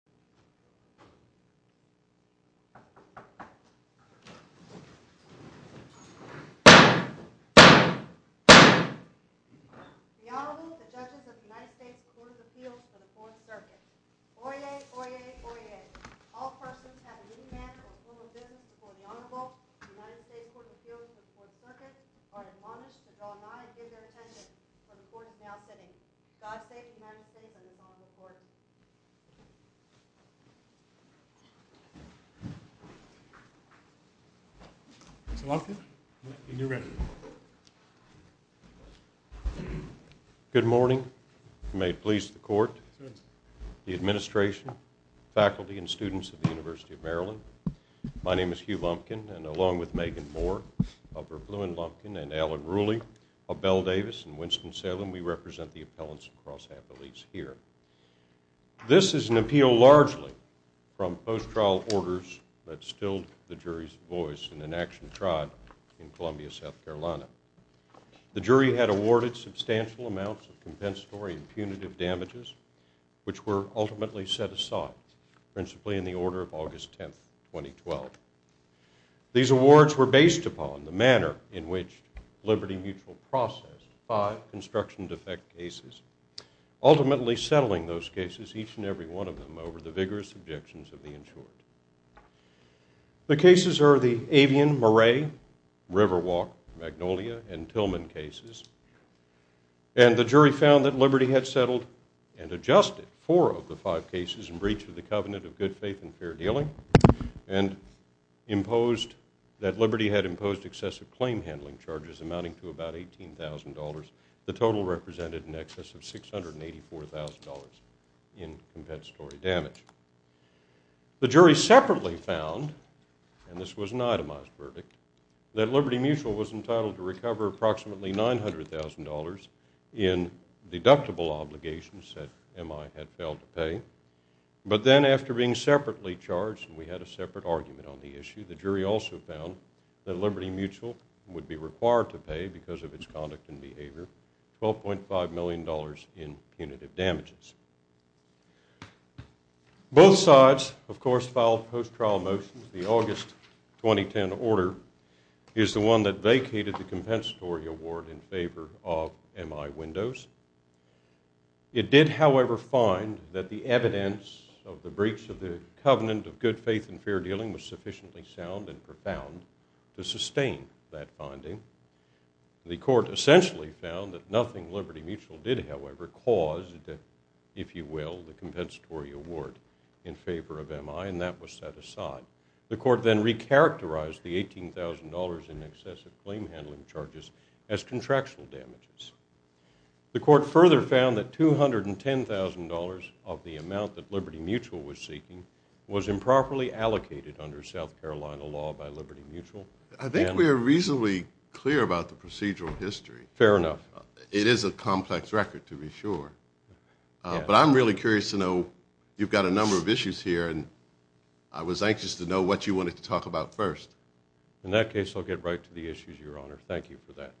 The Honorable, the Judges of the United States Court of Appeals for the Fourth Circuit. Oyez! Oyez! Oyez! All persons have an in-man or full of business before the Honorable of the United States Court of Appeals for the Fourth Circuit are admonished to draw nigh and give their attendance for the Court is now sitting. God save the United States from the fall of the Court. Mr. Lumpkin, you may begin. Good morning. May it please the Court, the administration, faculty, and students of the University of Maryland. My name is Hugh Lumpkin and along with Megan Moore of Verbloom & Lumpkin and Alan Ruley of Bell Davis and Winston-Salem, we represent the appellants across Appellees here. This is an appeal largely from post-trial orders that stilled the jury's voice in an action tried in Columbia, South Carolina. The jury had awarded substantial amounts of compensatory and punitive damages, which were ultimately set aside, principally in the order of August 10, 2012. These awards were based upon the manner in which Liberty Mutual processed five construction defect cases, ultimately settling those cases, each and every one of them, over the vigorous objections of the insured. The cases are the Avian, Moray, Riverwalk, Magnolia, and Tillman cases, and the jury found that Liberty had settled and adjusted four of the five cases in breach of the Covenant of Good Faith and Fair Dealing, and imposed that Liberty had imposed excessive claim handling charges amounting to about $18,000, the total represented in excess of $684,000 in compensatory damage. The jury separately found, and this was an itemized verdict, that Liberty Mutual was entitled to recover approximately $900,000 in deductible obligations that MI had failed to pay, but then after being separately charged, and we had a separate argument on the issue, the jury also found that Liberty Mutual would be required to pay, because of its conduct and behavior, $12.5 million in punitive damages. Both sides, of course, filed post-trial motions. The August 2010 order is the one that vacated the compensatory award in favor of MI Windows. It did, however, find that the evidence of the breach of the Covenant of Good Faith and Fair Dealing was sufficiently sound and profound to sustain that finding. The court essentially found that nothing Liberty Mutual did, however, caused, if you will, the compensatory award in favor of MI, and that was set aside. The court then recharacterized the $18,000 in excessive claim handling charges as contractual damages. The court further found that $210,000 of the amount that Liberty Mutual was seeking was improperly allocated under South Carolina law by Liberty Mutual. I think we are reasonably clear about the procedural history. Fair enough. It is a complex record, to be sure, but I'm really curious to know, you've got a number of issues here, and I was anxious to know what you wanted to talk about first. In that case, I'll get right to the issues, Your Honor. Thank you for that.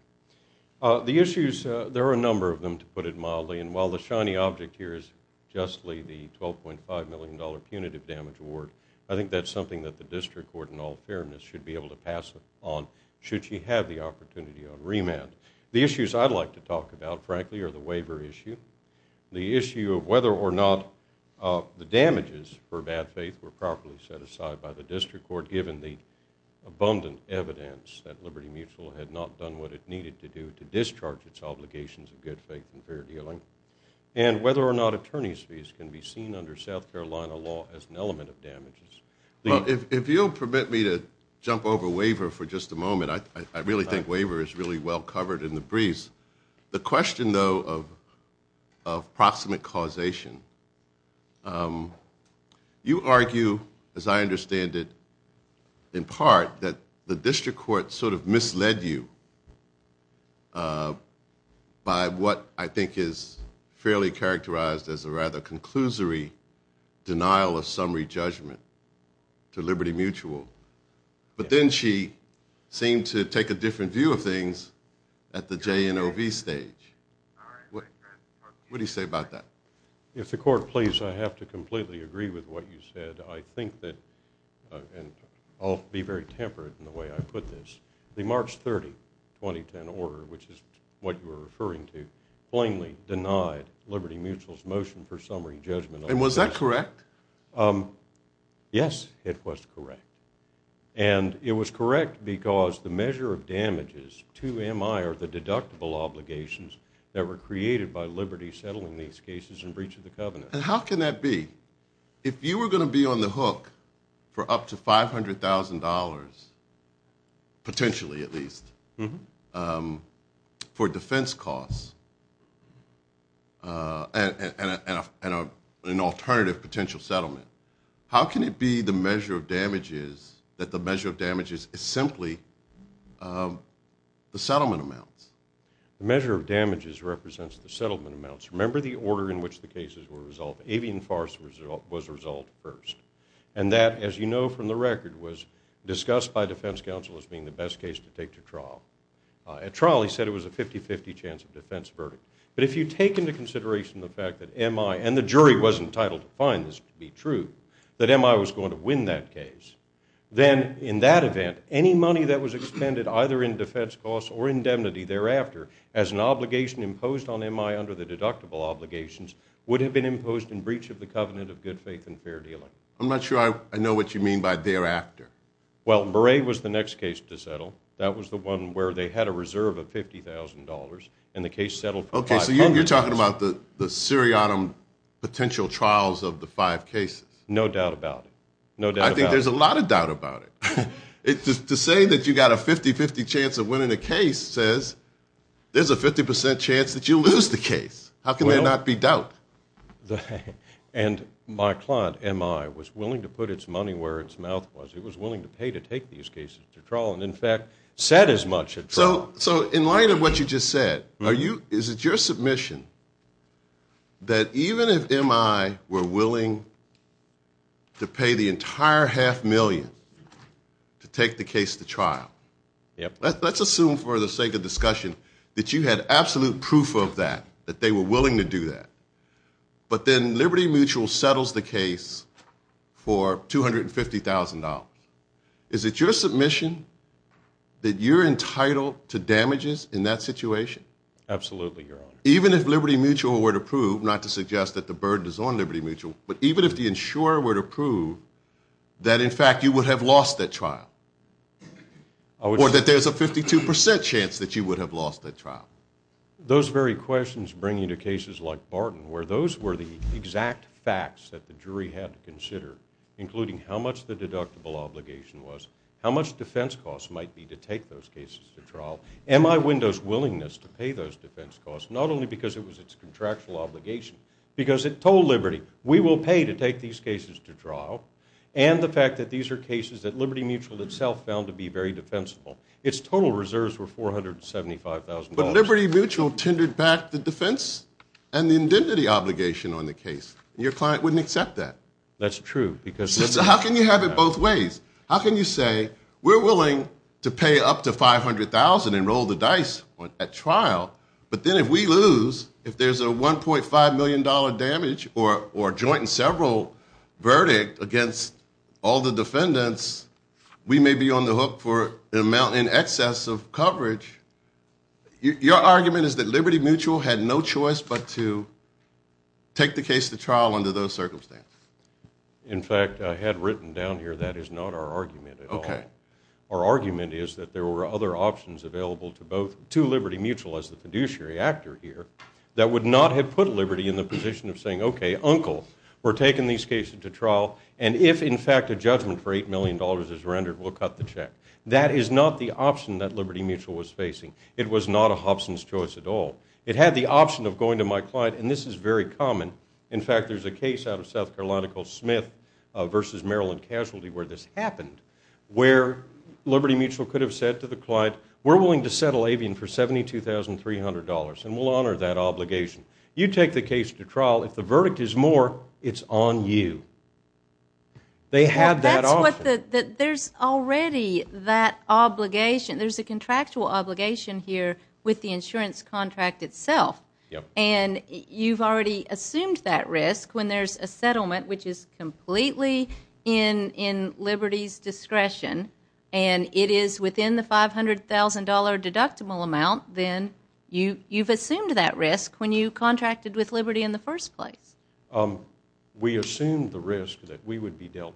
The issues, there are a number of them, to put it mildly, and while the shiny object here is justly the $12.5 million punitive damage award, I think that's something that the district court, in all fairness, should be able to pass on, should she have the opportunity on remand. The issues I'd like to talk about, frankly, are the waiver issue, the issue of whether or not the damages for bad faith were properly set aside by the district court, given the abundant evidence that Liberty Mutual had not done what it needed to do to discharge its obligations of good faith and fair dealing, and whether or not attorney's fees can be seen under South Carolina law as an element of damages. Well, if you'll permit me to jump over waiver for just a moment, I really think waiver is really well covered in the breeze. The question, though, of proximate causation, you argue, as I understand it, in part, that the district court sort of misled you by what I think is fairly characterized as a rather conclusory denial of summary judgment to Liberty Mutual. But then she seemed to take a different view of things at the JNOV stage. What do you say about that? If the court please, I have to completely agree with what you said. I think that, and I'll be very temperate in the way I put this, the March 30, 2010 order, which is what you were referring to, plainly denied Liberty Mutual's motion for summary judgment. And was that correct? Yes, it was correct. And it was correct because the measure of damages to MI are the deductible obligations that were created by Liberty settling these cases in breach of the covenant. And how can that be? If you were going to be on the hook for up to $500,000, potentially at least, for defense costs and an alternative potential settlement, how can it be that the measure of damages is simply the settlement amounts? The measure of damages represents the settlement amounts. Remember the order in which the cases were resolved. Avian Forest was resolved first. And that, as you know from the record, was discussed by defense counsel as being the best case to take to trial. At trial, he said it was a 50-50 chance of defense verdict. But if you take into consideration the fact that MI, and the jury was entitled to find this to be true, that MI was going to win that case, then in that event, any money that was expended either in defense costs or indemnity thereafter as an obligation imposed on MI under the deductible obligations would have been imposed in breach of the covenant of good faith and fair dealing. I'm not sure I know what you mean by thereafter. Well, Bray was the next case to settle. That was the one where they had a reserve of $50,000, and the case settled for $500,000. Okay, so you're talking about the seriatim potential trials of the five cases. No doubt about it. No doubt about it. I think there's a lot of doubt about it. To say that you've got a 50-50 chance of winning a case says there's a 50% chance that you'll lose the case. How can there not be doubt? And my client, MI, was willing to put its money where its mouth was. It was willing to pay to take these cases to trial and, in fact, said as much at trial. So in light of what you just said, is it your submission that even if MI were willing to pay the entire half million, to take the case to trial, let's assume for the sake of discussion that you had absolute proof of that, that they were willing to do that, but then Liberty Mutual settles the case for $250,000. Is it your submission that you're entitled to damages in that situation? Absolutely, Your Honor. Even if Liberty Mutual were to prove, not to suggest that the burden is on Liberty Mutual, but even if the insurer were to prove that, in fact, you would have lost that trial or that there's a 52% chance that you would have lost that trial? Those very questions bring you to cases like Barton where those were the exact facts that the jury had to consider, including how much the deductible obligation was, how much defense costs might be to take those cases to trial, MI Window's willingness to pay those defense costs, not only because it was its contractual obligation, because it told Liberty, we will pay to take these cases to trial, and the fact that these are cases that Liberty Mutual itself found to be very defensible. Its total reserves were $475,000. But Liberty Mutual tendered back the defense and the indemnity obligation on the case. Your client wouldn't accept that. That's true. How can you have it both ways? How can you say, we're willing to pay up to $500,000 and roll the dice at trial, but then if we lose, if there's a $1.5 million damage or a joint and several verdict against all the defendants, we may be on the hook for an amount in excess of coverage. Your argument is that Liberty Mutual had no choice but to take the case to trial under those circumstances. In fact, I had written down here that is not our argument at all. Our argument is that there were other options available to Liberty Mutual as the fiduciary actor here that would not have put Liberty in the position of saying, okay, uncle, we're taking these cases to trial, and if, in fact, a judgment for $8 million is rendered, we'll cut the check. That is not the option that Liberty Mutual was facing. It was not a Hobson's choice at all. It had the option of going to my client, and this is very common. In fact, there's a case out of South Carolina called Smith v. Maryland Casualty where this happened, where Liberty Mutual could have said to the client, we're willing to settle Avian for $72,300, and we'll honor that obligation. You take the case to trial. If the verdict is more, it's on you. They had that option. There's already that obligation. There's a contractual obligation here with the insurance contract itself, and you've already assumed that risk when there's a settlement which is completely in Liberty's discretion, and it is within the $500,000 deductible amount, then you've assumed that risk when you contracted with Liberty in the first place. We assumed the risk that we would be dealt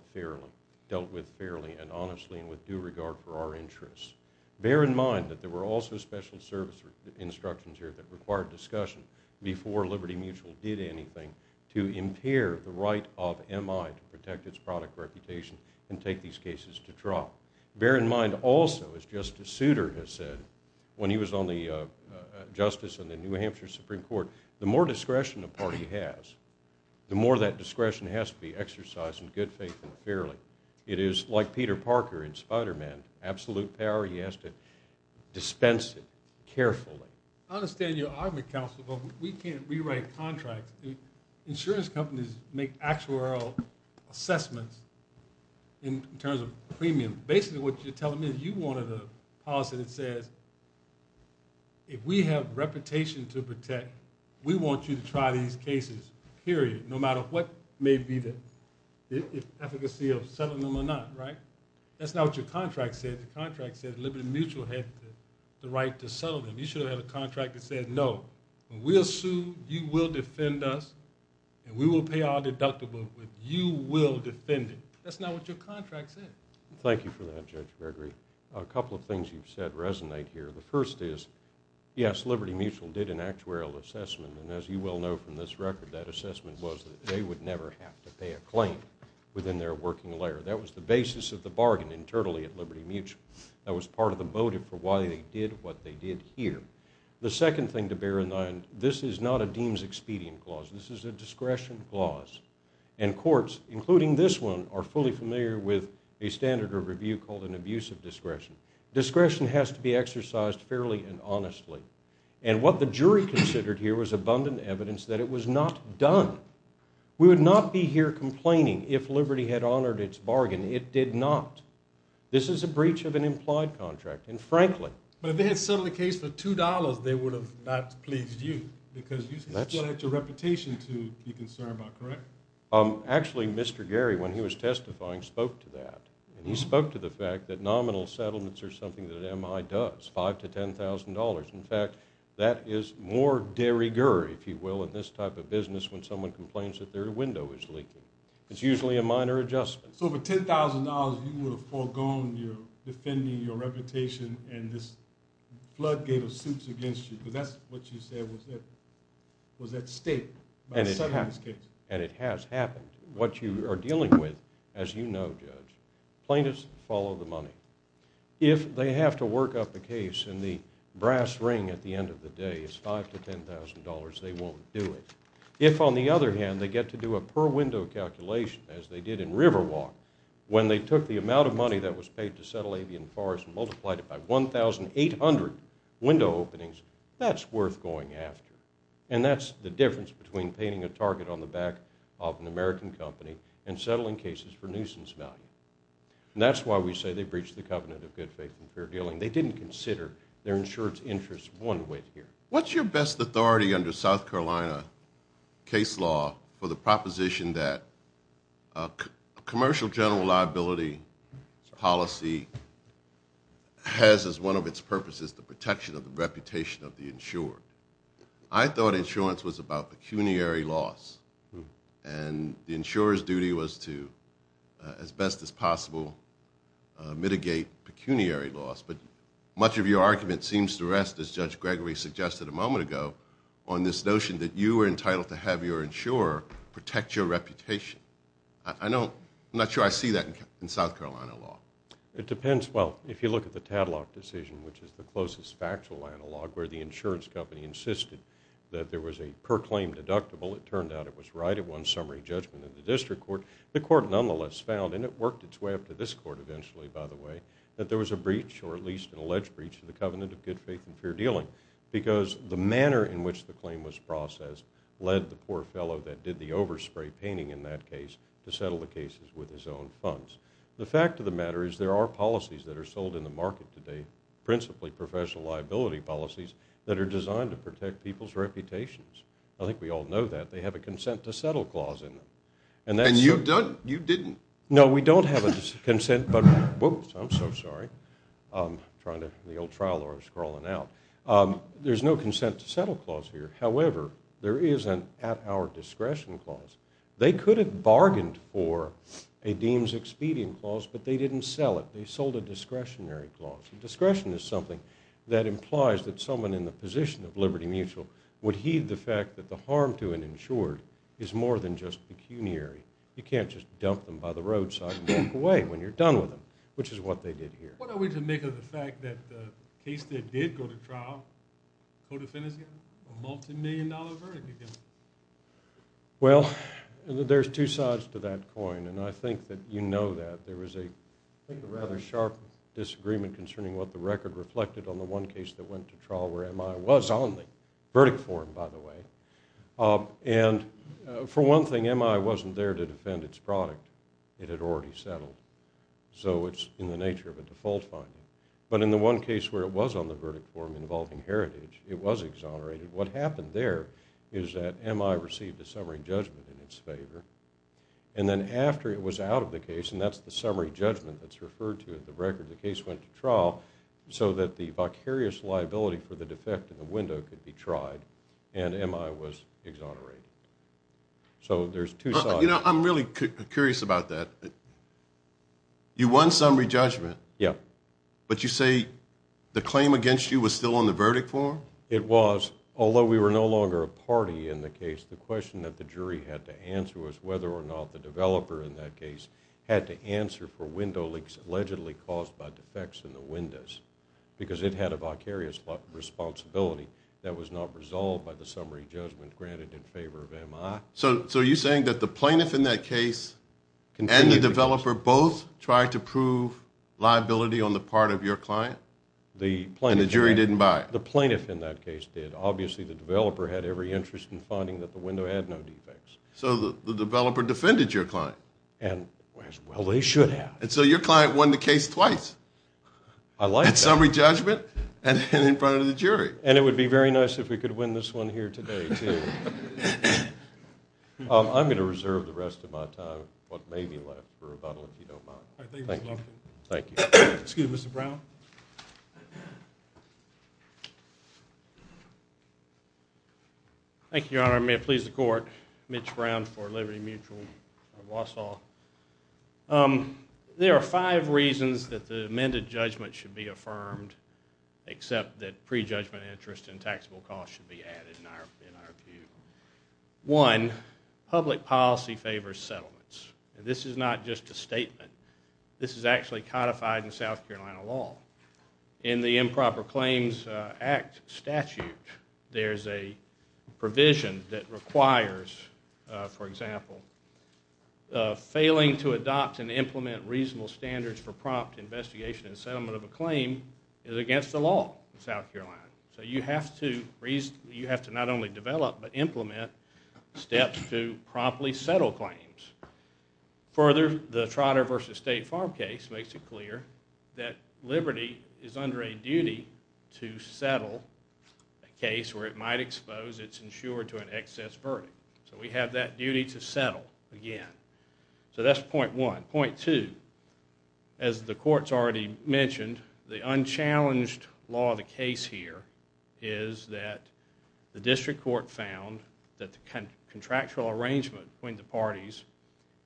with fairly and honestly and with due regard for our interests. Bear in mind that there were also special service instructions here that required discussion before Liberty Mutual did anything to impair the right of MI to protect its product reputation and take these cases to trial. Bear in mind also, as Justice Souter has said when he was on the Justice in the New Hampshire Supreme Court, the more discretion a party has, the more that discretion has to be exercised in good faith and fairly. It is like Peter Parker in Spider-Man. Absolute power, he has to dispense it carefully. I understand your argument, Counselor, but we can't rewrite contracts. Insurance companies make actuarial assessments in terms of premium. Basically what you're telling me is you wanted a policy that says, if we have reputation to protect, we want you to try these cases, period, no matter what may be the efficacy of settling them or not, right? That's not what your contract said. The contract said Liberty Mutual had the right to settle them. You should have had a contract that said, no, we'll sue, you will defend us, and we will pay our deductible, but you will defend it. That's not what your contract said. Thank you for that, Judge Gregory. A couple of things you've said resonate here. The first is, yes, Liberty Mutual did an actuarial assessment, and as you well know from this record, that assessment was that they would never have to pay a claim within their working layer. That was the basis of the bargain internally at Liberty Mutual. That was part of the motive for why they did what they did here. The second thing to bear in mind, this is not a deems expedient clause. This is a discretion clause, and courts, including this one, are fully familiar with a standard of review called an abusive discretion. Discretion has to be exercised fairly and honestly, and what the jury considered here was abundant evidence that it was not done. We would not be here complaining if Liberty had honored its bargain. It did not. This is a breach of an implied contract, and frankly— But if they had settled the case for $2, they would have not pleased you, because you still had your reputation to be concerned about, correct? Actually, Mr. Gary, when he was testifying, spoke to that, and he spoke to the fact that nominal settlements are something that MI does, $5,000 to $10,000. In fact, that is more derriere, if you will, in this type of business when someone complains that their window is leaking. It's usually a minor adjustment. So for $10,000, you would have foregone defending your reputation and this floodgate of suits against you, because that's what you said was at stake by settling this case. And it has happened. What you are dealing with, as you know, Judge, plaintiffs follow the money. If they have to work up a case, and the brass ring at the end of the day is $5,000 to $10,000, they won't do it. If, on the other hand, they get to do a per-window calculation, as they did in Riverwalk, when they took the amount of money that was paid to settle Avian Forest and multiplied it by 1,800 window openings, that's worth going after. And that's the difference between painting a target on the back of an American company and settling cases for nuisance value. And that's why we say they breached the covenant of good faith and fair dealing. They didn't consider their insurance interests one way here. What's your best authority under South Carolina case law for the proposition that a commercial general liability policy has as one of its purposes the protection of the reputation of the insured? I thought insurance was about pecuniary laws, and the insurer's duty was to, as best as possible, mitigate pecuniary laws. But much of your argument seems to rest, as Judge Gregory suggested a moment ago, on this notion that you were entitled to have your insurer protect your reputation. I'm not sure I see that in South Carolina law. It depends. Well, if you look at the Tadlock decision, which is the closest factual analog, where the insurance company insisted that there was a proclaimed deductible, it turned out it was right at one summary judgment in the district court. The court nonetheless found, and it worked its way up to this court eventually, by the way, that there was a breach, or at least an alleged breach, of the covenant of good faith and fair dealing because the manner in which the claim was processed led the poor fellow that did the overspray painting in that case to settle the cases with his own funds. The fact of the matter is there are policies that are sold in the market today, principally professional liability policies, that are designed to protect people's reputations. I think we all know that. They have a consent to settle clause in them. And you didn't? No, we don't have a consent, but... Whoops, I'm so sorry. I'm trying to... the old trial law is crawling out. There's no consent to settle clause here. However, there is an at-hour discretion clause. They could have bargained for a deems expedient clause, but they didn't sell it. They sold a discretionary clause. Discretion is something that implies that someone in the position of Liberty Mutual would heed the fact that the harm to an insured is more than just pecuniary. You can't just dump them by the roadside and walk away when you're done with them, which is what they did here. What are we to make of the fact that the case that did go to trial, co-defendants get a multimillion-dollar verdict again? Well, there's two sides to that coin, and I think that you know that. There was a rather sharp disagreement concerning what the record reflected on the one case that went to trial where MI was on the verdict form, by the way. And for one thing, MI wasn't there to defend its product. It had already settled. So it's in the nature of a default finding. But in the one case where it was on the verdict form involving Heritage, it was exonerated. What happened there is that MI received a summary judgment in its favor, and then after it was out of the case, and that's the summary judgment that's referred to in the record, the case went to trial so that the vicarious liability for the defect in the window could be tried, and MI was exonerated. So there's two sides. You know, I'm really curious about that. You won summary judgment. Yeah. But you say the claim against you was still on the verdict form? It was. Although we were no longer a party in the case, the question that the jury had to answer was whether or not the developer in that case had to answer for window leaks allegedly caused by defects in the windows because it had a vicarious responsibility that was not resolved by the summary judgment granted in favor of MI. So are you saying that the plaintiff in that case and the developer both tried to prove liability on the part of your client, and the jury didn't buy it? The plaintiff in that case did. Obviously, the developer had every interest in finding that the window had no defects. So the developer defended your client. And, well, they should have. And so your client won the case twice. I like that. At summary judgment and in front of the jury. And it would be very nice if we could win this one here today, too. I'm going to reserve the rest of my time, what may be left, for rebuttal if you don't mind. All right. Thank you, Mr. Lumpkin. Excuse me, Mr. Brown. Thank you, Your Honor. Your Honor, may it please the Court, Mitch Brown for Liberty Mutual of Wausau. There are five reasons that the amended judgment should be affirmed, except that prejudgment interest and taxable costs should be added, in our view. One, public policy favors settlements. This is not just a statement. This is actually codified in South Carolina law. In the Improper Claims Act statute, there's a provision that requires, for example, failing to adopt and implement reasonable standards for prompt investigation and settlement of a claim is against the law in South Carolina. So you have to not only develop but implement steps to promptly settle claims. Further, the Trotter v. State Farm case makes it clear that Liberty is under a duty to settle a case where it might expose its insurer to an excess verdict. So we have that duty to settle again. So that's point one. Point two, as the Court's already mentioned, the unchallenged law of the case here is that the District Court found that the contractual arrangement between the parties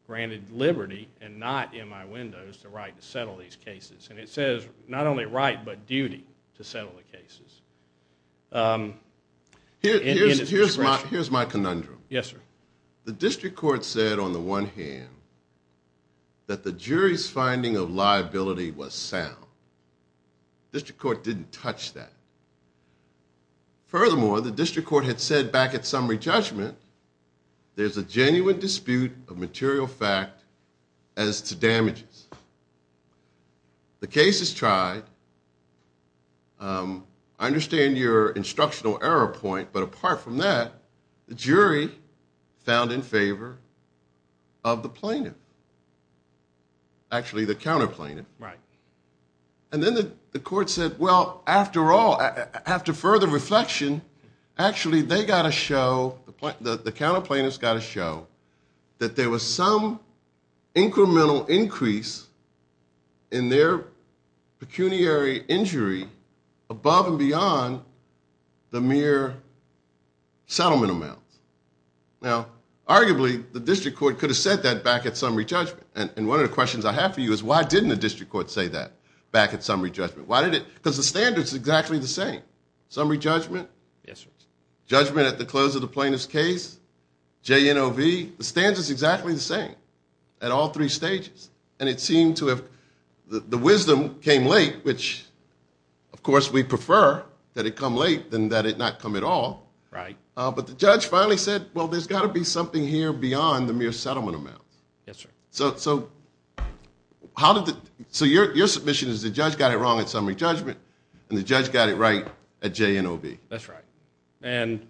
granted liberty and not, in my windows, the right to settle these cases. And it says not only right but duty to settle the cases. Here's my conundrum. Yes, sir. The District Court said, on the one hand, that the jury's finding of liability was sound. The District Court didn't touch that. Furthermore, the District Court had said back at summary judgment, there's a genuine dispute of material fact as to damages. The case is tried. I understand your instructional error point, but apart from that, the jury found in favor of the plaintiff. Actually, the counter-plaintiff. And then the Court said, well, after all, after further reflection, actually they got to show, the counter-plaintiffs got to show, that there was some incremental increase in their pecuniary injury above and beyond the mere settlement amount. Now, arguably, the District Court could have said that back at summary judgment. And one of the questions I have for you is why didn't the District Court say that back at summary judgment? Why did it? Because the standards are exactly the same. Summary judgment? Yes, sir. Judgment at the close of the plaintiff's case? J-N-O-V? The standards are exactly the same at all three stages. And it seemed to have, the wisdom came late, which, of course, we prefer that it come late than that it not come at all. Right. But the judge finally said, well, there's got to be something here beyond the mere settlement amount. Yes, sir. So your submission is the judge got it wrong at summary judgment and the judge got it right at J-N-O-V. That's right. And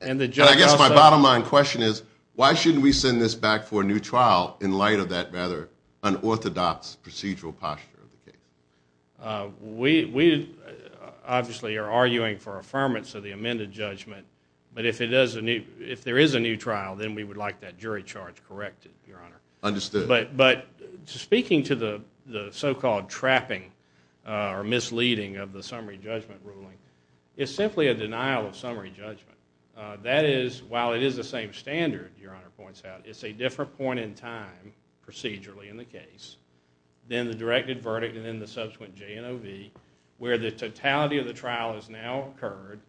the judge also – I guess my bottom line question is why shouldn't we send this back for a new trial in light of that rather unorthodox procedural posture of the case? We obviously are arguing for affirmance of the amended judgment. But if there is a new trial, then we would like that jury charge corrected, Your Honor. Understood. But speaking to the so-called trapping or misleading of the summary judgment ruling, it's simply a denial of summary judgment. That is, while it is the same standard, Your Honor points out, it's a different point in time procedurally in the case than the directed verdict and then the subsequent J-N-O-V where the totality of the trial has now occurred,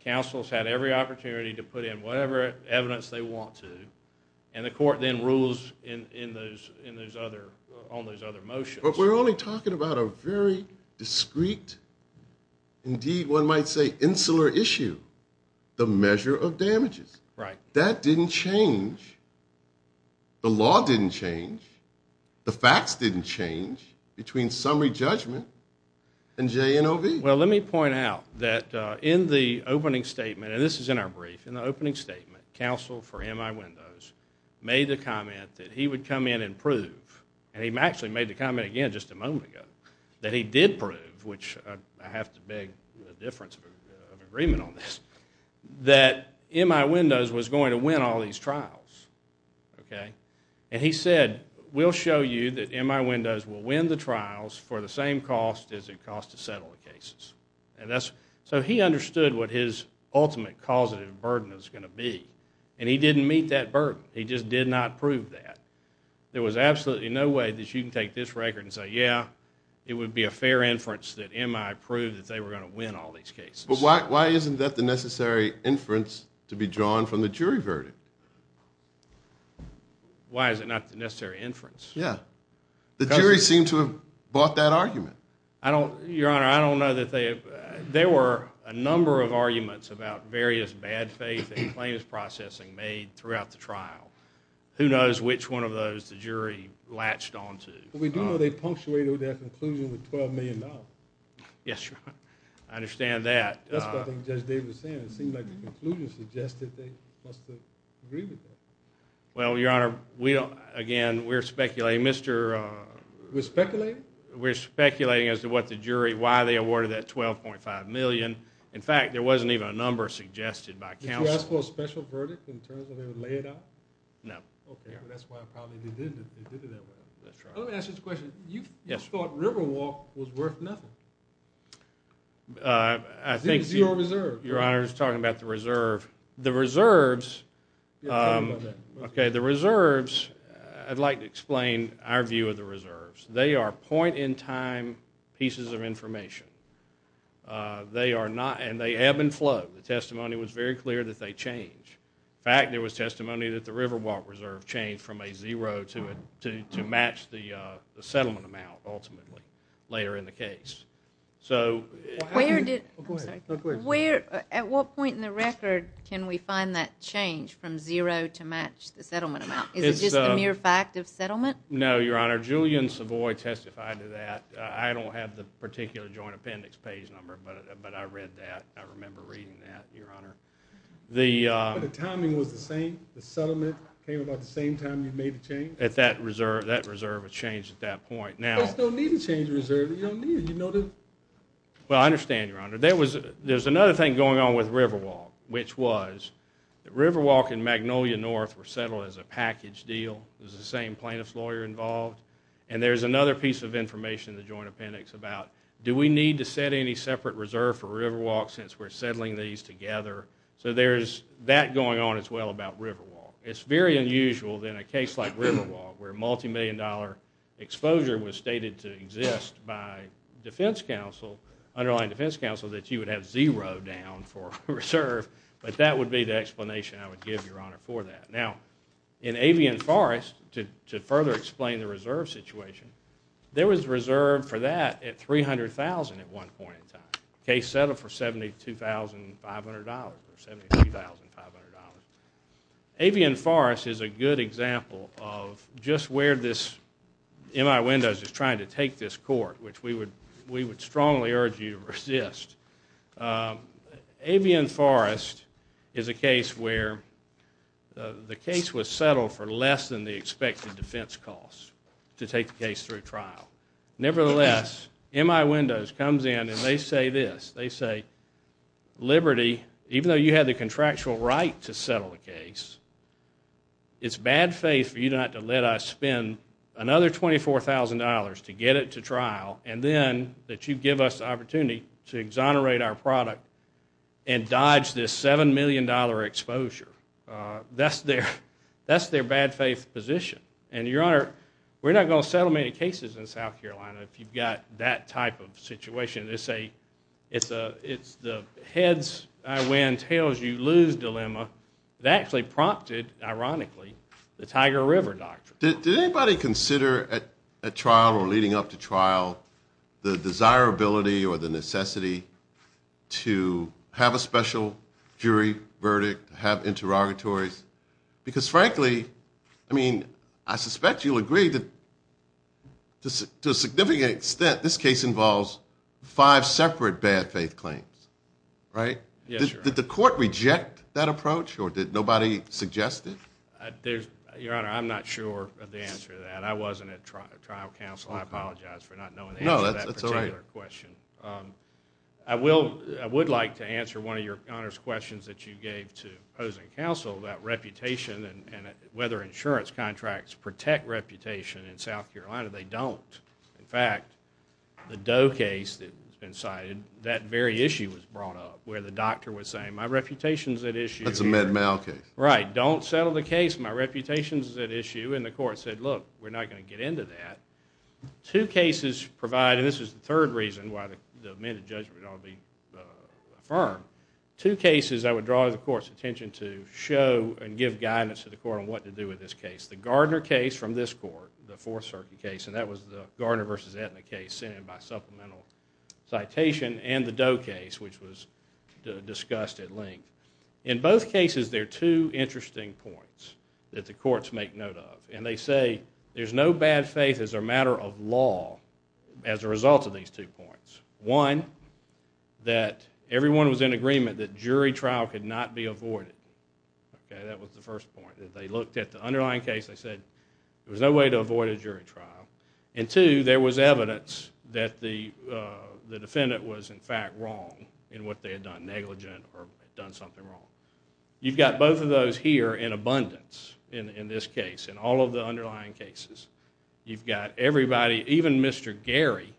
counsel has had every opportunity to put in whatever evidence they want to, and the court then rules on those other motions. But we're only talking about a very discreet, indeed one might say insular issue, the measure of damages. Right. That didn't change. The law didn't change. The facts didn't change between summary judgment and J-N-O-V. Well, let me point out that in the opening statement, and this is in our brief, in the opening statement counsel for M.I. Windows made the comment that he would come in and prove, and he actually made the comment again just a moment ago, that he did prove, which I have to beg the difference of agreement on this, that M.I. Windows was going to win all these trials. Okay? And he said, we'll show you that M.I. Windows will win the trials for the same cost as it costs to settle the cases. And that's, so he understood what his ultimate causative burden was going to be, and he didn't meet that burden. He just did not prove that. There was absolutely no way that you can take this record and say, yeah, it would be a fair inference that M.I. proved that they were going to win all these cases. But why isn't that the necessary inference to be drawn from the jury verdict? Why is it not the necessary inference? Yeah. The jury seemed to have bought that argument. I don't, Your Honor, I don't know that they, there were a number of arguments about various bad faith and claims processing made throughout the trial. Who knows which one of those the jury latched onto. But we do know they punctuated their conclusion with $12 million. Yes, Your Honor. I understand that. Well, Your Honor, we don't, again, we're speculating, Mr. We're speculating? We're speculating as to what the jury, why they awarded that $12.5 million. In fact, there wasn't even a number suggested by counsel. Did you ask for a special verdict in terms of they would lay it out? No. Okay. That's why probably they did it that way. That's right. Let me ask you this question. Yes. You thought Riverwalk was worth nothing. I think. Zero reserve. Your Honor, he's talking about the reserve. The reserves, okay, the reserves, I'd like to explain our view of the reserves. They are point in time pieces of information. They are not, and they ebb and flow. The testimony was very clear that they change. In fact, there was testimony that the Riverwalk reserve changed from a zero to match the settlement amount, ultimately, later in the case. So, at what point in the record can we find that change from zero to match the settlement amount? Is it just the mere fact of settlement? No, Your Honor. Julian Savoy testified to that. I don't have the particular joint appendix page number, but I read that. I remember reading that, Your Honor. The timing was the same? The settlement came about the same time you made the change? That reserve had changed at that point. You don't need to change the reserve. You don't need it. You know that. Well, I understand, Your Honor. There was another thing going on with Riverwalk, which was that Riverwalk and Magnolia North were settled as a package deal. It was the same plaintiff's lawyer involved. And there's another piece of information in the joint appendix about do we need to set any separate reserve for Riverwalk since we're settling these together? So, there's that going on as well about Riverwalk. It's very unusual in a case like Riverwalk, where multimillion-dollar exposure was stated to exist by defense counsel, underlying defense counsel, that you would have zero down for reserve. But that would be the explanation I would give, Your Honor, for that. Now, in Avian Forest, to further explain the reserve situation, the case settled for $72,500, or $73,500. Avian Forest is a good example of just where this M.I. Windows is trying to take this court, which we would strongly urge you to resist. Avian Forest is a case where the case was settled for less than the expected defense cost to take the case through trial. Nevertheless, M.I. Windows comes in and they say this. They say, Liberty, even though you had the contractual right to settle the case, it's bad faith for you not to let us spend another $24,000 to get it to trial and then that you give us the opportunity to exonerate our product and dodge this $7 million exposure. That's their bad faith position. And, Your Honor, we're not going to settle many cases in South Carolina if you've got that type of situation. They say it's the heads I win, tails you lose dilemma. That actually prompted, ironically, the Tiger River doctrine. Did anybody consider at trial or leading up to trial the desirability or the necessity to have a special jury verdict, have interrogatories? Because, frankly, I mean, I suspect you'll agree that to a significant extent, this case involves five separate bad faith claims, right? Yes, Your Honor. Did the court reject that approach or did nobody suggest it? Your Honor, I'm not sure of the answer to that. I wasn't at trial counsel. I apologize for not knowing the answer to that particular question. No, that's all right. I would like to answer one of Your Honor's questions that you gave to opposing counsel about reputation and whether insurance contracts protect reputation in South Carolina. They don't. In fact, the Doe case that's been cited, that very issue was brought up where the doctor was saying, my reputation's at issue. That's a Med-Mal case. Right. Don't settle the case. My reputation's at issue. And the court said, look, we're not going to get into that. Two cases provide, and this is the third reason why the amended judgment ought to be affirmed, two cases I would draw the court's attention to show and give guidance to the court on what to do with this case. The Gardner case from this court, the Fourth Circuit case, and that was the Gardner v. Aetna case sent in by supplemental citation, and the Doe case, which was discussed at length. In both cases, there are two interesting points that the courts make note of, and they say there's no bad faith as a matter of law as a result of these two points. One, that everyone was in agreement that jury trial could not be avoided. Okay, that was the first point. If they looked at the underlying case, they said there was no way to avoid a jury trial. And two, there was evidence that the defendant was, in fact, wrong in what they had done, negligent or done something wrong. You've got both of those here in abundance in this case, in all of the underlying cases. You've got everybody, even Mr. Gary,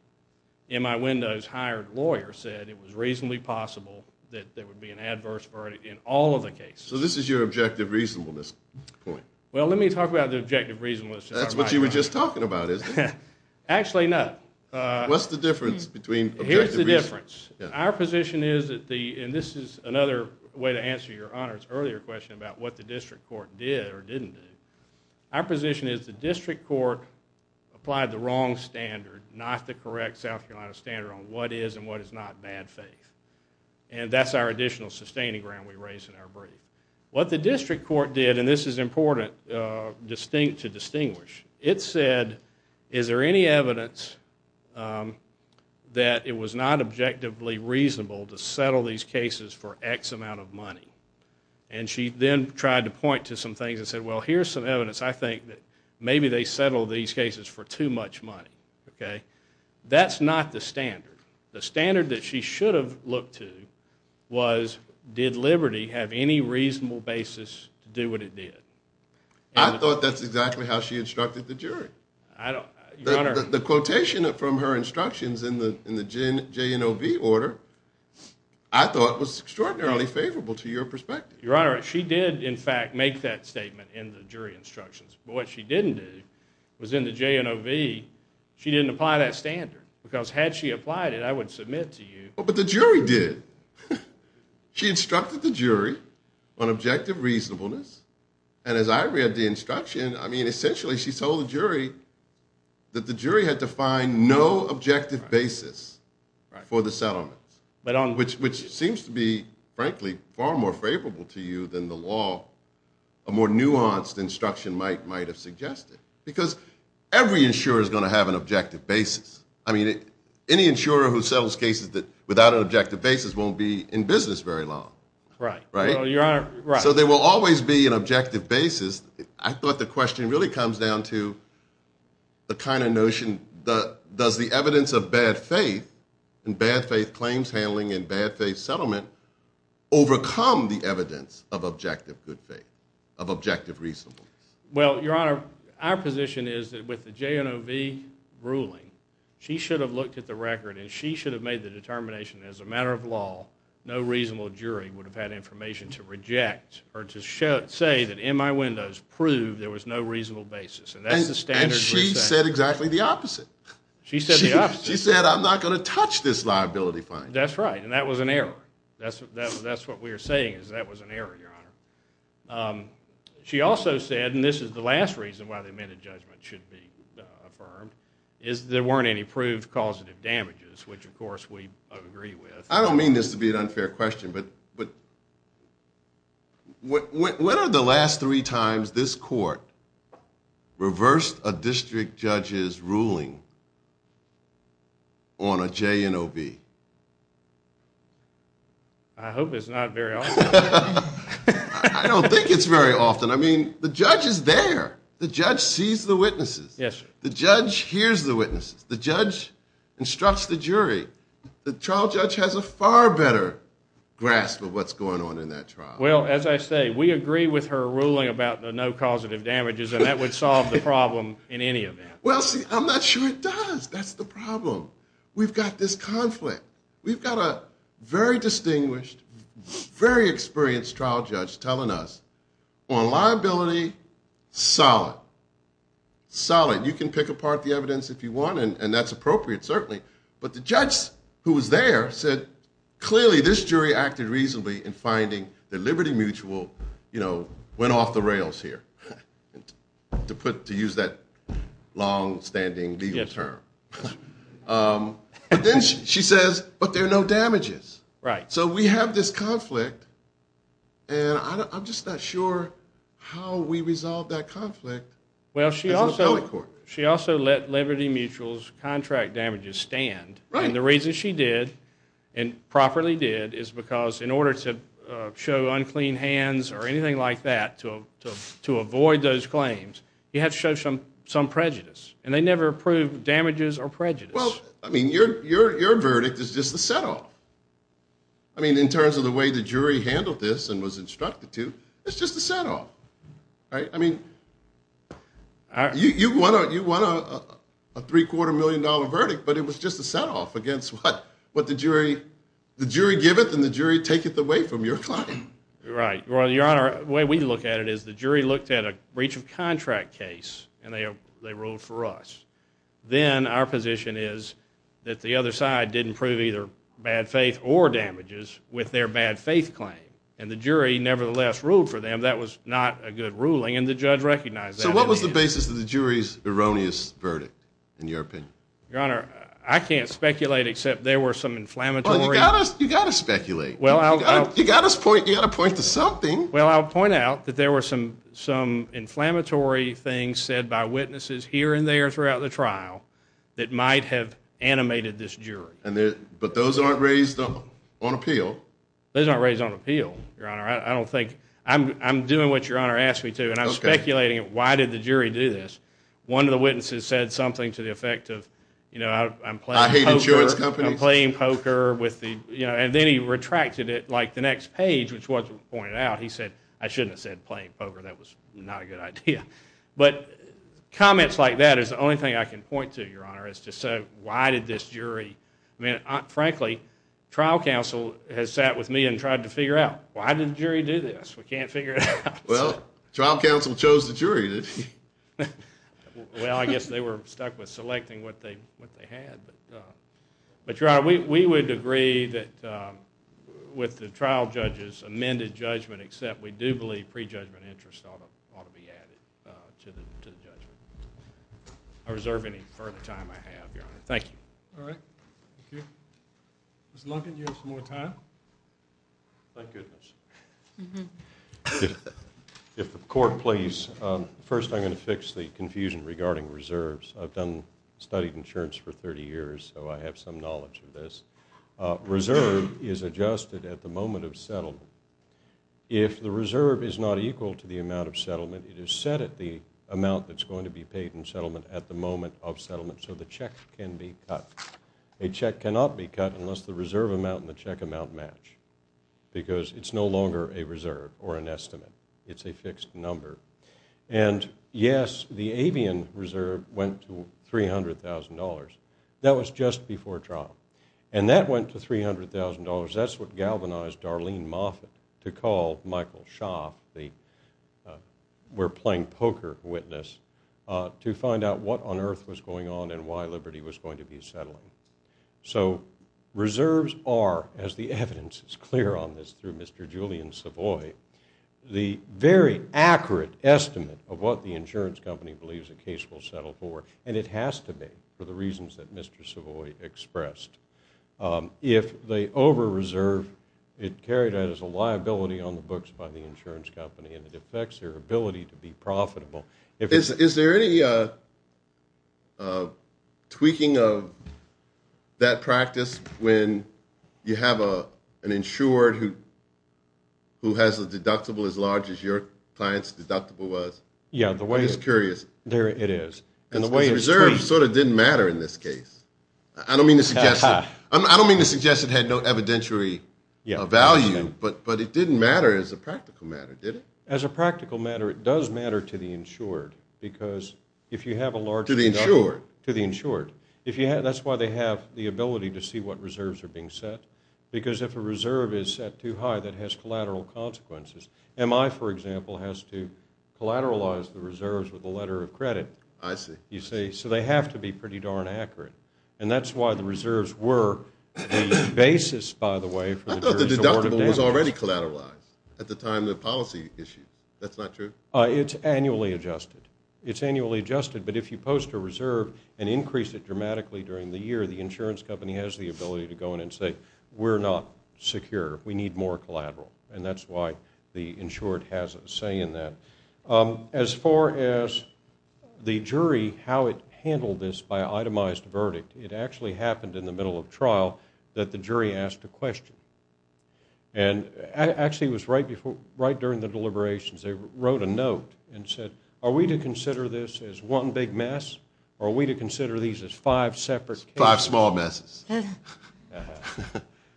in my window's hired lawyer, said it was reasonably possible that there would be an adverse verdict in all of the cases. So this is your objective reasonableness point. Well, let me talk about the objective reasonableness. That's what you were just talking about, isn't it? What's the difference between objective reasonableness? Here's the difference. Our position is that the, and this is another way to answer your Honor's earlier question about what the district court did or didn't do. Our position is the district court applied the wrong standard, not the correct South Carolina standard on what is and what is not bad faith. And that's our additional sustaining ground we raise in our brief. What the district court did, and this is important to distinguish, it said is there any evidence that it was not objectively reasonable to settle these cases for X amount of money? And she then tried to point to some things and said, well, here's some evidence. I think that maybe they settled these cases for too much money. That's not the standard. The standard that she should have looked to was, did Liberty have any reasonable basis to do what it did? I thought that's exactly how she instructed the jury. The quotation from her instructions in the JNOV order, I thought was extraordinarily favorable to your perspective. Your Honor, she did in fact make that statement in the jury instructions. But what she didn't do was in the JNOV, she didn't apply that standard. Because had she applied it, I would submit to you. But the jury did. She instructed the jury on objective reasonableness. And as I read the instruction, I mean, essentially she told the jury that the jury had to find no objective basis for the settlement. Which seems to be, frankly, far more favorable to you than the law, a more nuanced instruction might have suggested. Because every insurer is going to have an objective basis. I mean, any insurer who settles cases without an objective basis won't be in business very long. Right. So there will always be an objective basis. I thought the question really comes down to the kind of notion, does the evidence of bad faith and bad faith claims handling and bad faith settlement overcome the evidence of objective good faith, of objective reasonableness? Well, Your Honor, our position is that with the JNOV ruling, she should have looked at the record and she should have made the determination as a matter of law, no reasonable jury would have had information to reject or to say that in my windows proved there was no reasonable basis. And she said exactly the opposite. She said the opposite. She said, I'm not going to touch this liability fine. That's right. And that was an error. That's what we're saying is that was an error, Your Honor. She also said, and this is the last reason why the amended judgment should be affirmed, is there weren't any proved causative damages, which, of course, we agree with. I don't mean this to be an unfair question, but when are the last three times this court reversed a district judge's ruling on a JNOV? I hope it's not very often. I don't think it's very often. I mean, the judge is there. The judge sees the witnesses. The judge hears the witnesses. The judge instructs the jury. The trial judge has a far better grasp of what's going on in that trial. Well, as I say, we agree with her ruling about the no causative damages, and that would solve the problem in any event. Well, see, I'm not sure it does. That's the problem. We've got this conflict. We've got a very distinguished, very experienced trial judge telling us, on liability, solid, solid. You can pick apart the evidence if you want, and that's appropriate, certainly. But the judge who was there said, clearly, this jury acted reasonably in finding that Liberty Mutual went off the rails here, to use that longstanding legal term. But then she says, but there are no damages. So we have this conflict, and I'm just not sure how we resolve that conflict as an appellate court. She also let Liberty Mutual's contract damages stand. Right. And the reason she did, and properly did, is because in order to show unclean hands or anything like that, to avoid those claims, you have to show some prejudice. And they never approved damages or prejudice. Well, I mean, your verdict is just a set-off. I mean, in terms of the way the jury handled this and was instructed to, it's just a set-off. I mean, you won a three-quarter million dollar verdict, but it was just a set-off against what the jury giveth and the jury taketh away from your claim. Right. Your Honor, the way we look at it is the jury looked at a breach of contract case, and they ruled for us. Then our position is that the other side didn't prove either bad faith or damages with their bad faith claim. And the jury, nevertheless, ruled for them. That was not a good ruling, and the judge recognized that. So what was the basis of the jury's erroneous verdict, in your opinion? Your Honor, I can't speculate except there were some inflammatory things. Well, you've got to speculate. You've got to point to something. Well, I'll point out that there were some inflammatory things said by witnesses here and there throughout the trial that might have animated this jury. But those aren't raised on appeal. Those aren't raised on appeal, Your Honor. I'm doing what Your Honor asked me to, and I'm speculating, why did the jury do this? One of the witnesses said something to the effect of, you know, I'm playing poker. I hate insurance companies. I'm playing poker. And then he retracted it like the next page, which wasn't pointed out. He said, I shouldn't have said playing poker. That was not a good idea. But comments like that is the only thing I can point to, Your Honor, is to say, why did this jury? I mean, frankly, trial counsel has sat with me and tried to figure out, why did the jury do this? We can't figure it out. Well, trial counsel chose the jury. Well, I guess they were stuck with selecting what they had. But, Your Honor, we would agree that with the trial judges amended judgment, except we do believe prejudgment interest ought to be added to the judgment. I reserve any further time I have, Your Honor. Thank you. All right. Thank you. Mr. Lunkin, do you have some more time? Thank goodness. If the court please, first I'm going to fix the confusion regarding reserves. I've studied insurance for 30 years, so I have some knowledge of this. Reserve is adjusted at the moment of settlement. If the reserve is not equal to the amount of settlement, it is set at the amount that's going to be paid in settlement at the moment of settlement, so the check can be cut. A check cannot be cut unless the reserve amount and the check amount match because it's no longer a reserve or an estimate. It's a fixed number. And, yes, the avian reserve went to $300,000. That was just before trial. And that went to $300,000. That's what galvanized Darlene Moffitt to call Michael Schaaf, the we're playing poker witness, to find out what on earth was going on and why Liberty was going to be settling. So reserves are, as the evidence is clear on this through Mr. Julian Savoy, the very accurate estimate of what the insurance company believes a case will settle for, and it has to be for the reasons that Mr. Savoy expressed. If they over-reserve, it carried out as a liability on the books by the insurance company, and it affects their ability to be profitable. Is there any tweaking of that practice when you have an insured who has a deductible as large as your client's deductible was? Yeah. I'm just curious. There it is. And the way it's tweaked. The reserve sort of didn't matter in this case. I don't mean to suggest it had no evidentiary value, but it didn't matter as a practical matter, did it? As a practical matter, it does matter to the insured because if you have a large deductible. To the insured. To the insured. That's why they have the ability to see what reserves are being set, because if a reserve is set too high, that has collateral consequences. MI, for example, has to collateralize the reserves with a letter of credit. I see. So they have to be pretty darn accurate, and that's why the reserves were the basis, by the way, for the jury's award of damages. The collateral was already collateralized at the time the policy issued. That's not true? It's annually adjusted. It's annually adjusted, but if you post a reserve and increase it dramatically during the year, the insurance company has the ability to go in and say, we're not secure, we need more collateral, and that's why the insured has a say in that. As far as the jury, how it handled this by itemized verdict, it actually happened in the middle of trial that the jury asked a question. Actually, it was right during the deliberations. They wrote a note and said, are we to consider this as one big mess, or are we to consider these as five separate cases? Five small messes.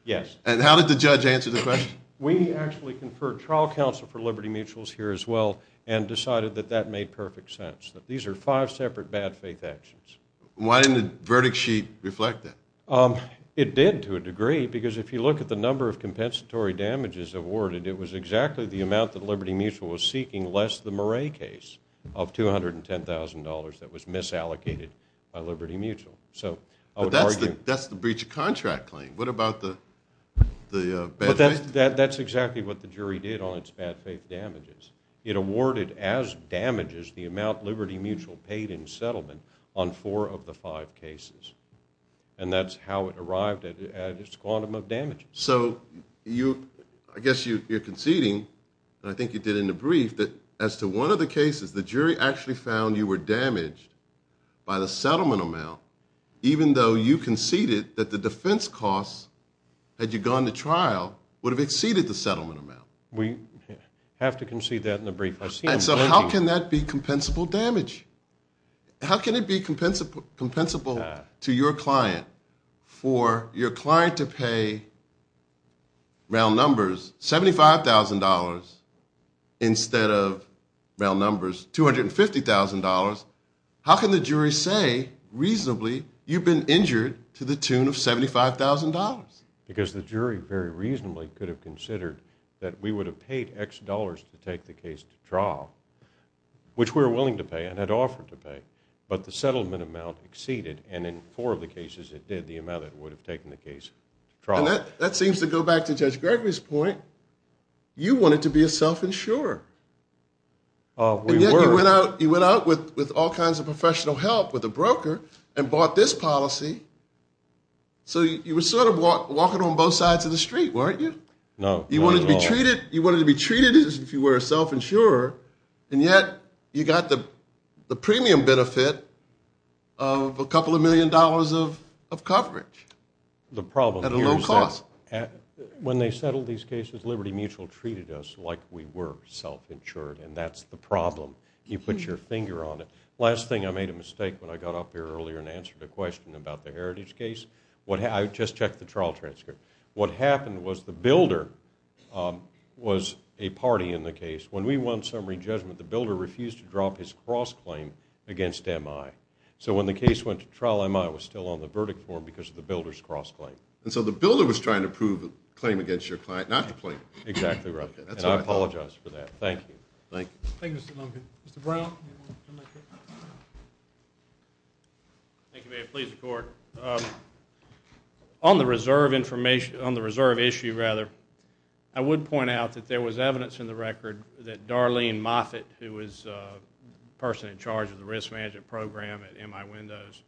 Yes. And how did the judge answer the question? We actually conferred trial counsel for Liberty Mutuals here as well and decided that that made perfect sense, that these are five separate bad faith actions. Why didn't the verdict sheet reflect that? It did, to a degree, because if you look at the number of compensatory damages awarded, it was exactly the amount that Liberty Mutual was seeking, less the Murray case of $210,000 that was misallocated by Liberty Mutual. That's the breach of contract claim. What about the bad faith? That's exactly what the jury did on its bad faith damages. It awarded as damages the amount Liberty Mutual paid in settlement on four of the five cases, and that's how it arrived at its quantum of damages. So I guess you're conceding, and I think you did in the brief, that as to one of the cases, the jury actually found you were damaged by the settlement amount, even though you conceded that the defense costs, had you gone to trial, would have exceeded the settlement amount. We have to concede that in the brief. And so how can that be compensable damage? How can it be compensable to your client, for your client to pay, round numbers, $75,000, instead of, round numbers, $250,000? How can the jury say, reasonably, you've been injured to the tune of $75,000? Because the jury very reasonably could have considered that we would have paid X dollars to take the case to trial, which we were willing to pay and had offered to pay. But the settlement amount exceeded, and in four of the cases it did, the amount it would have taken the case to trial. And that seems to go back to Judge Gregory's point. You wanted to be a self-insurer. We were. And yet you went out with all kinds of professional help, with a broker, and bought this policy. So you were sort of walking on both sides of the street, weren't you? No, not at all. You wanted to be treated as if you were a self-insurer, and yet you got the premium benefit of a couple of million dollars of coverage at a low cost. The problem here is that when they settled these cases, Liberty Mutual treated us like we were self-insured, and that's the problem. You put your finger on it. Last thing, I made a mistake when I got up here earlier and answered a question about the Heritage case. I just checked the trial transcript. What happened was the builder was a party in the case. When we won summary judgment, the builder refused to drop his cross-claim against MI. So when the case went to trial, MI was still on the verdict form because of the builder's cross-claim. And so the builder was trying to prove the claim against your client, not your client. Exactly right. And I apologize for that. Thank you. Thank you, Mr. Duncan. Mr. Brown? Thank you, Mayor. Please, the Court. On the reserve issue, I would point out that there was evidence in the record that Darlene Moffitt, who was the person in charge of the risk management program at MI Windows,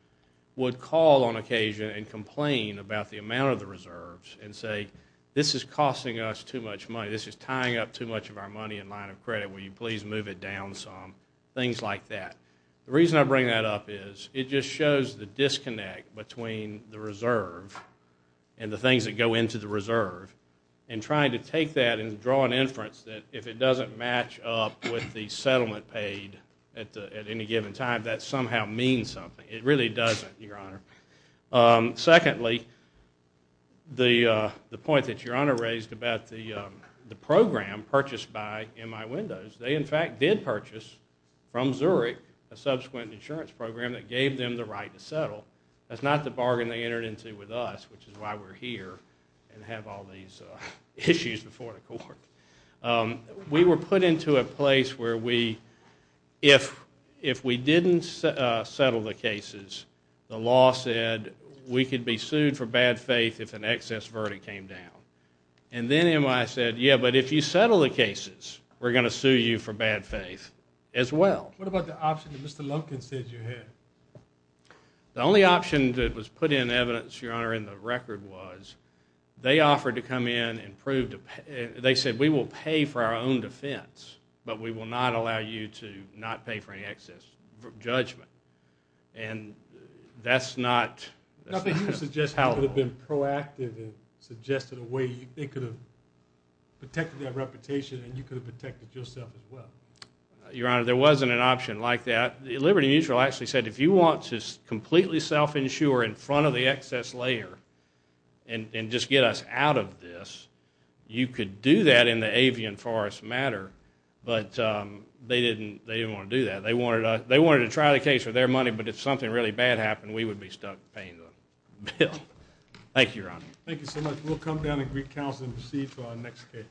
would call on occasion and complain about the amount of the reserves and say, this is costing us too much money. This is tying up too much of our money in line of credit. Will you please move it down some? Things like that. The reason I bring that up is it just shows the disconnect between the reserve and the things that go into the reserve. And trying to take that and draw an inference that if it doesn't match up with the settlement paid at any given time, that somehow means something. It really doesn't, Your Honor. Secondly, the point that Your Honor raised about the program purchased by MI Windows, they in fact did purchase from Zurich a subsequent insurance program that gave them the right to settle. That's not the bargain they entered into with us, which is why we're here and have all these issues before the Court. We were put into a place where if we didn't settle the cases, the law said we could be sued for bad faith if an excess verdict came down. And then MI said, yeah, but if you settle the cases, we're going to sue you for bad faith as well. What about the option that Mr. Lumpkin said you had? The only option that was put in evidence, Your Honor, in the record was they offered to come in and prove to pay. They said we will pay for our own defense, but we will not allow you to not pay for any excess judgment. And that's not how it works. Nothing you suggested could have been proactive and suggested a way they could have protected their reputation and you could have protected yourself as well. Your Honor, there wasn't an option like that. Liberty Mutual actually said if you want to completely self-insure in front of the excess layer and just get us out of this, you could do that in the avian forest matter, but they didn't want to do that. They wanted to try the case for their money, but if something really bad happened, we would be stuck paying the bill. Thank you, Your Honor. Thank you so much. We'll come down to Greek Council and proceed to our next case.